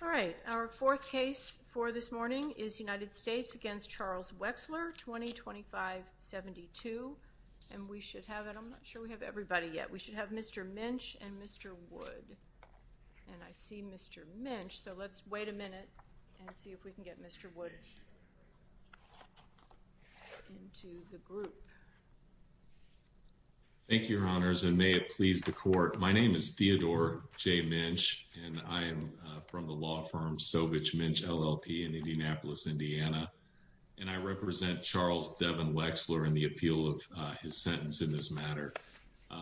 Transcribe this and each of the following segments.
All right, our fourth case for this morning is United States against Charles Wechsler, 2025-72. And we should have, and I'm not sure we have everybody yet, we should have Mr. Minch and Mr. Wood. And I see Mr. Minch, so let's wait a minute and see if we can get Mr. Wood into the group. Thank you, your honors, and may it please the court. My name is Theodore J. Minch, and I am from the law firm Sovich Minch LLP in Indianapolis, Indiana. And I represent Charles Devon Wechsler in the appeal of his sentence in this matter.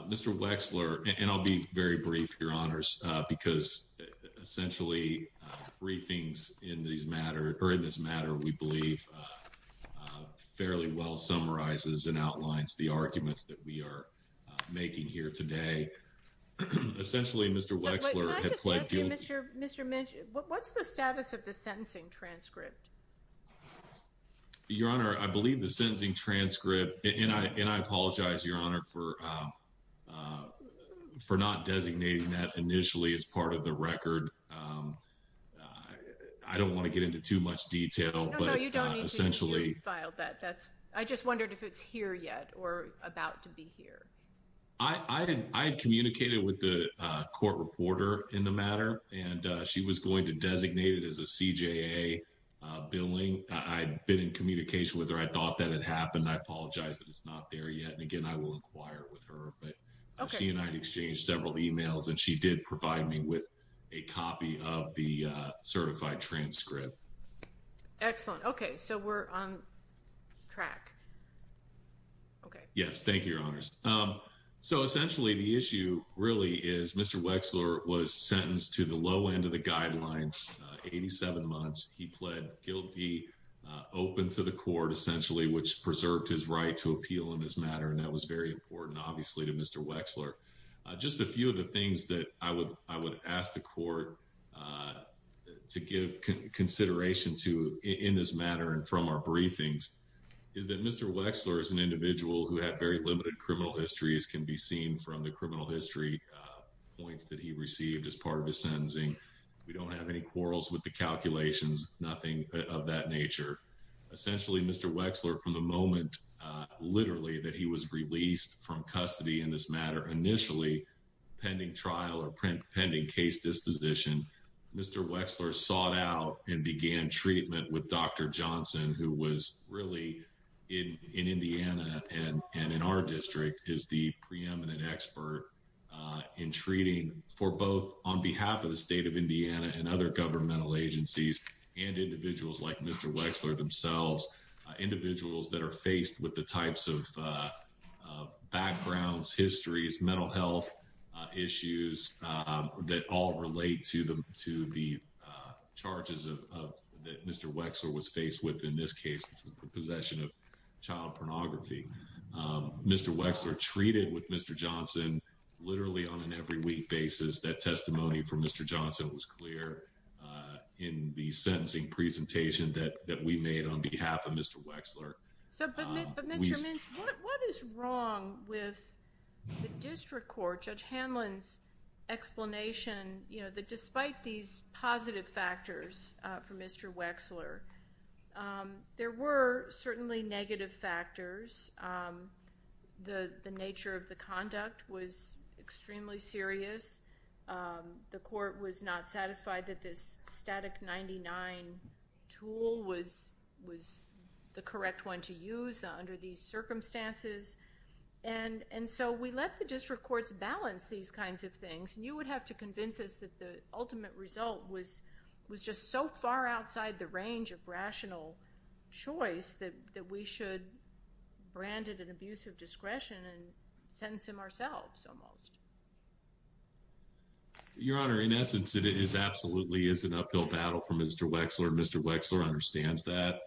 Mr. Wechsler, and I'll be very brief, your honors, because essentially briefings in this matter, we believe, fairly well summarizes and outlines the arguments that we are making here today. Essentially, Mr. Wechsler had pled guilty- So can I just ask you, Mr. Minch, what's the status of the sentencing transcript? Your honor, I believe the sentencing transcript, and I apologize, your honor, for not designating that initially as part of the record. I don't wanna get into too much detail, but essentially- No, no, you don't need to file that. I just wondered if it's here yet or about to be here. I had communicated with the court reporter in the matter, and she was going to designate it as a CJA billing. I'd been in communication with her. I thought that had happened. I apologize that it's not there yet. And again, I will inquire with her, but she and I had exchanged several emails, and she did provide me with a copy of the certified transcript. Excellent, okay, so we're on track. Okay. Yes, thank you, your honors. So essentially, the issue really is Mr. Wexler was sentenced to the low end of the guidelines, 87 months. He pled guilty, open to the court, essentially, which preserved his right to appeal in this matter, and that was very important, obviously, to Mr. Wexler. Just a few of the things that I would ask the court to give consideration to in this matter and from our briefings, is that Mr. Wexler is an individual who had very limited criminal histories, can be seen from the criminal history points that he received as part of his sentencing. We don't have any quarrels with the calculations, nothing of that nature. Essentially, Mr. Wexler, from the moment, literally, that he was released from custody in this matter, initially, pending trial or pending case disposition, Mr. Wexler sought out and began treatment with Dr. Johnson, who was really, in Indiana and in our district, is the preeminent expert in treating for both on behalf of the state of Indiana and other governmental agencies and individuals like Mr. Wexler themselves, individuals that are faced with the types of backgrounds, histories, mental health issues that all relate to the charges that Mr. Wexler was faced with in this case, which was the possession of child pornography. Mr. Wexler treated with Mr. Johnson, literally, on an every week basis. That testimony from Mr. Johnson was clear in the sentencing presentation that we made on behalf of Mr. Wexler. So, but Mr. Mintz, what is wrong with the district court, Judge Hanlon's explanation that despite these positive factors for Mr. Wexler, there were certainly negative factors. The nature of the conduct was extremely serious. The court was not satisfied that this static 99 tool was the correct one to use under these circumstances. And so we let the district courts balance these kinds of things. And you would have to convince us that the ultimate result was just so far outside the range of rational choice that we should brand it an abuse of discretion and sentence him ourselves almost. Your Honor, in essence, it is absolutely is an uphill battle for Mr. Wexler. Mr. Wexler understands that.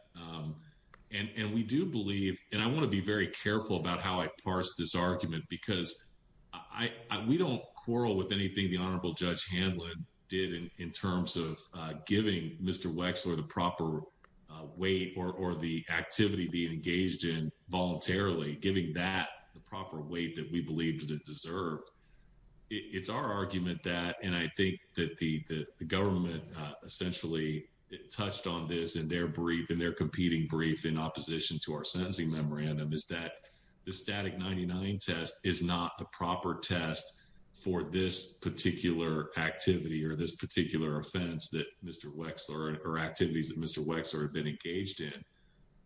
And we do believe, and I wanna be very careful about how I parse this argument, because we don't quarrel with anything the Honorable Judge Hanlon did in terms of giving Mr. Wexler the proper weight or the activity being engaged in voluntarily, giving that the proper weight that we believe that it deserved. It's our argument that, and I think that the government essentially touched on this in their brief and their competing brief in opposition to our sentencing memorandum is that the static 99 test is not the proper test for this particular activity or this particular offense that Mr. Wexler or activities that Mr. Wexler had been engaged in.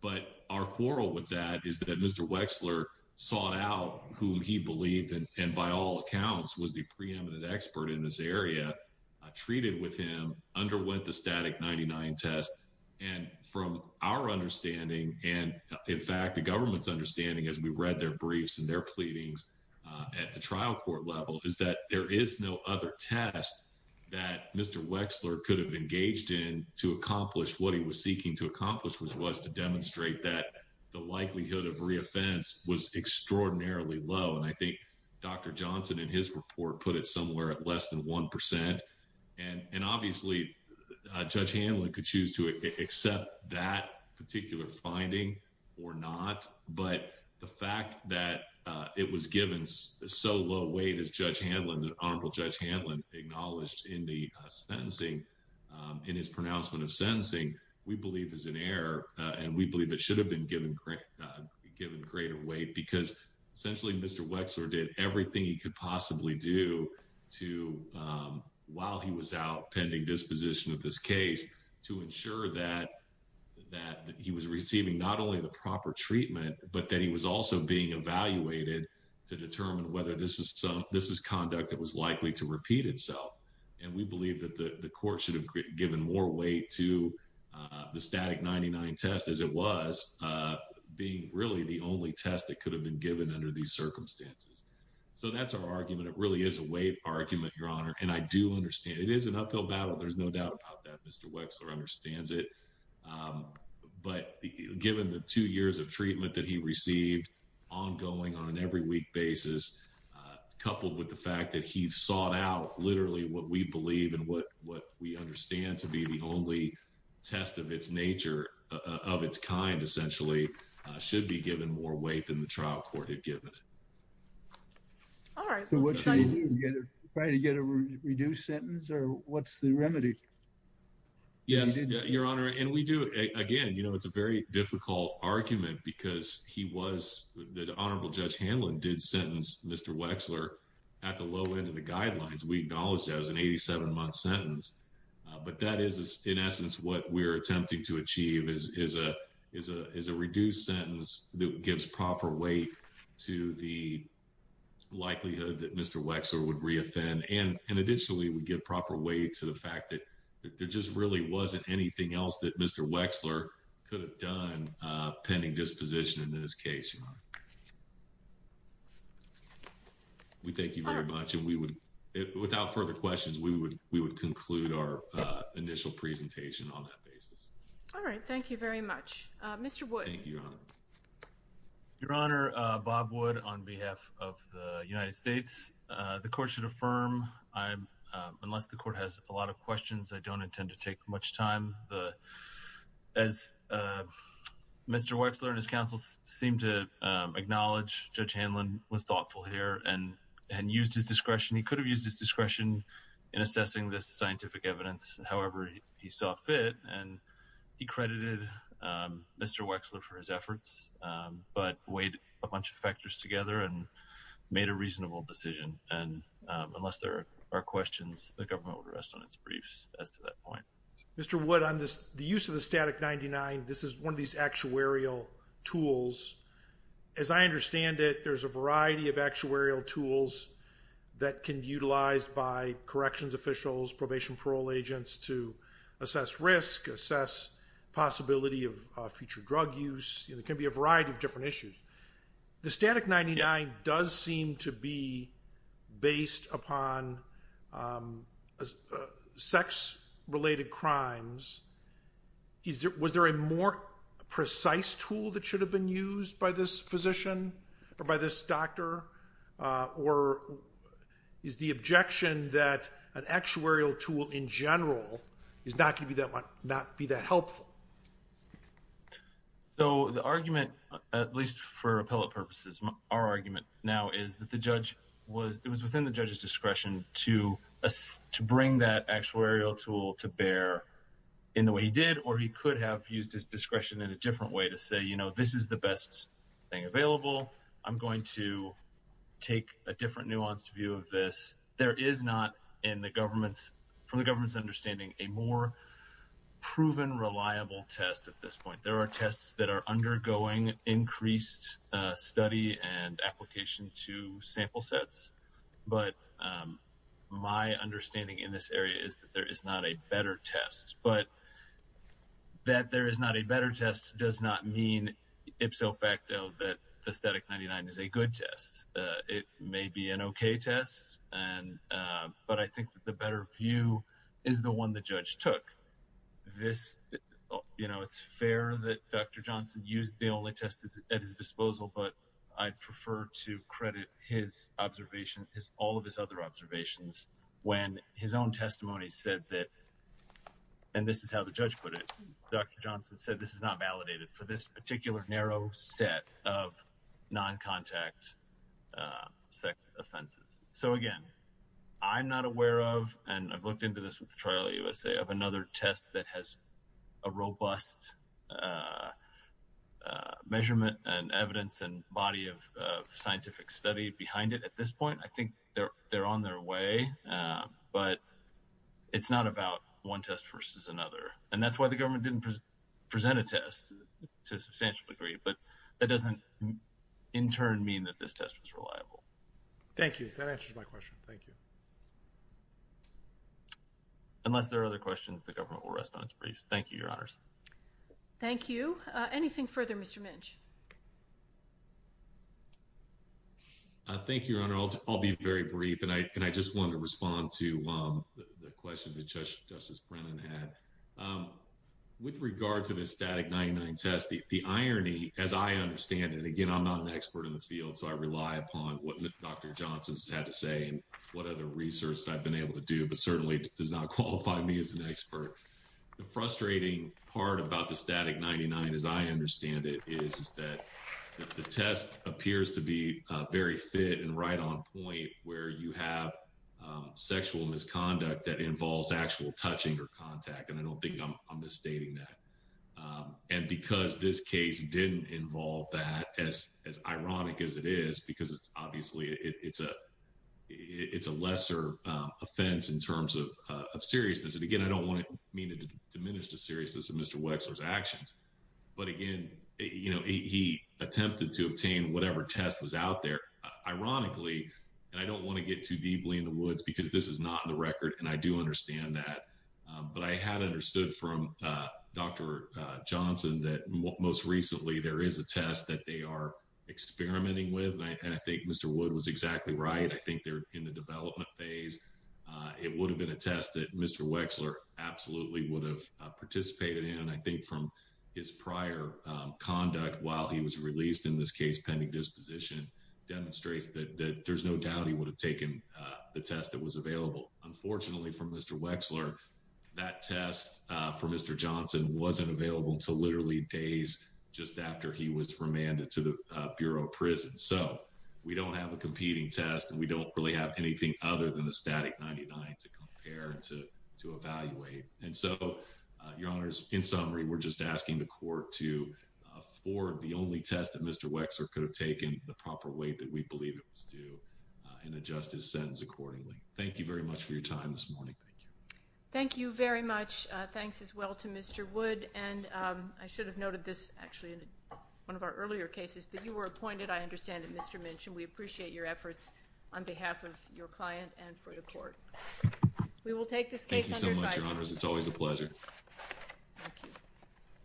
But our quarrel with that is that Mr. Wexler sought out whom he believed and by all accounts was the preeminent expert in this area, treated with him, underwent the static 99 test. And from our understanding, and in fact, the government's understanding as we read their briefs and their pleadings at the trial court level is that there is no other test that Mr. Wexler could have engaged in to accomplish what he was seeking to accomplish, which was to demonstrate that the likelihood of re-offense was extraordinarily low. And I think Dr. Johnson in his report put it somewhere at less than 1%. And obviously Judge Hanlon could choose to accept that particular finding or not, but the fact that it was given so low weight as Judge Hanlon, that Honorable Judge Hanlon acknowledged in the sentencing, in his pronouncement of sentencing, we believe is an error and we believe it should have been given greater weight because essentially Mr. Wexler did everything he could possibly do to, while he was out pending disposition of this case, to ensure that he was receiving not only the proper treatment, but that he was also being evaluated to determine whether this is conduct that was likely to repeat itself. And we believe that the court should have given more weight to the static 99 test as it was, being really the only test that could have been given under these circumstances. So that's our argument. It really is a weight argument, Your Honor. And I do understand it is an uphill battle. There's no doubt about that. Mr. Wexler understands it, but given the two years of treatment that he received ongoing on an every week basis, coupled with the fact that he sought out literally what we believe and what we understand to be the only test of its nature of its kind, essentially should be given more weight than the trial court had given it. All right. We'll try to get a reduced sentence or what's the remedy? Yes, Your Honor. And we do, again, it's a very difficult argument because he was, the Honorable Judge Hanlon did sentence Mr. Wexler at the low end of the guidelines. We acknowledged that it was an 87 month sentence, but that is in essence what we're attempting to achieve is a reduced sentence that gives proper weight to the likelihood that Mr. Wexler would re-offend. And additionally, we give proper weight to the fact that there just really wasn't anything else that Mr. Wexler could have done pending disposition in this case, Your Honor. We thank you very much. And we would, without further questions, we would conclude our initial presentation on that basis. All right. Thank you very much. Mr. Wood. Thank you, Your Honor. Your Honor, Bob Wood on behalf of the United States. The court should affirm, unless the court has a lot of questions, I don't intend to take much time. As Mr. Wexler and his counsel seem to acknowledge, Judge Hanlon was thoughtful here and used his discretion. He could have used his discretion in assessing this scientific evidence, however he saw fit. And he credited Mr. Wexler for his efforts, but weighed a bunch of factors together and made a reasonable decision. And unless there are questions, the government would rest on its briefs as to that point. Mr. Wood, on the use of the Static 99, this is one of these actuarial tools. As I understand it, there's a variety of actuarial tools that can be utilized by corrections officials, probation, parole agents to assess risk, assess possibility of future drug use. There can be a variety of different issues. The Static 99 does seem to be based upon sex-related crimes. Was there a more precise tool that should have been used by this physician or by this doctor? Or is the objection that an actuarial tool in general is not gonna be that helpful? So the argument, at least for appellate purposes, our argument now is that it was within the judge's discretion to bring that actuarial tool to bear in the way he did, or he could have used his discretion this is the best thing available. I'm going to take a different nuanced view of this. There is not in the government's, from the government's understanding, a more proven reliable test at this point. There are tests that are undergoing increased study and application to sample sets. But my understanding in this area is that there is not a better test. But that there is not a better test does not mean ipso facto that the Static 99 is a good test. It may be an okay test, but I think that the better view is the one the judge took. It's fair that Dr. Johnson used the only test at his disposal, but I'd prefer to credit his observation, all of his other observations, when his own testimony said that, and this is how the judge put it, Dr. Johnson said this is not validated for this particular narrow set of non-contact sex offenses. So again, I'm not aware of, and I've looked into this with the trial USA, of another test that has a robust measurement and evidence and body of scientific study behind it at this point. I think they're on their way, but it's not about one test versus another. And that's why the government didn't present a test to a substantial degree, but that doesn't in turn mean that this test was reliable. Thank you, that answers my question, thank you. Unless there are other questions, the government will rest on its briefs. Thank you, your honors. Thank you. Anything further, Mr. Minch? Thank you, your honor. I'll be very brief, and I just wanted to respond to the question that Justice Brennan had. With regard to the Static 99 test, the irony, as I understand it, again, I'm not an expert in the field, so I rely upon what Dr. Johnson's had to say and what other research I've been able to do, but certainly does not qualify me as an expert. The frustrating part about the Static 99, as I understand it, is that the test appears to be very fit and right on point where you have sexual misconduct that involves actual touching or contact, and I don't think I'm misstating that. And because this case didn't involve that, as ironic as it is, because obviously it's a lesser offense in terms of seriousness, and again, I don't want to mean to diminish the seriousness of Mr. Wexler's actions, but again, he attempted to obtain whatever test was out there, ironically, and I don't want to get too deeply in the woods because this is not in the record, and I do understand that, but I had understood from Dr. Johnson that most recently there is a test that they are experimenting with, and I think Mr. Wood was exactly right. I think they're in the development phase. It would have been a test that Mr. Wexler absolutely would have participated in, I think from his prior conduct while he was released in this case, pending disposition, demonstrates that there's no doubt he would have taken the test that was available. Unfortunately for Mr. Wexler, that test for Mr. Johnson wasn't available until literally days just after he was remanded to the Bureau of Prison, so we don't have a competing test, and we don't really have anything other than the static 99 to compare and to evaluate, and so, your honors, in summary, we're just asking the court to afford the only test that Mr. Wexler could have taken, the proper way that we believe it was due, and adjust his sentence accordingly. Thank you very much for your time this morning. Thank you. Thank you very much. Thanks as well to Mr. Wood, and I should have noted this actually in one of our earlier cases, that you were appointed, I understand, at Mr. Minchin. We appreciate your efforts on behalf of your client and for the court. We will take this case under advisory. Thank you so much, your honors. It's always a pleasure. Thank you.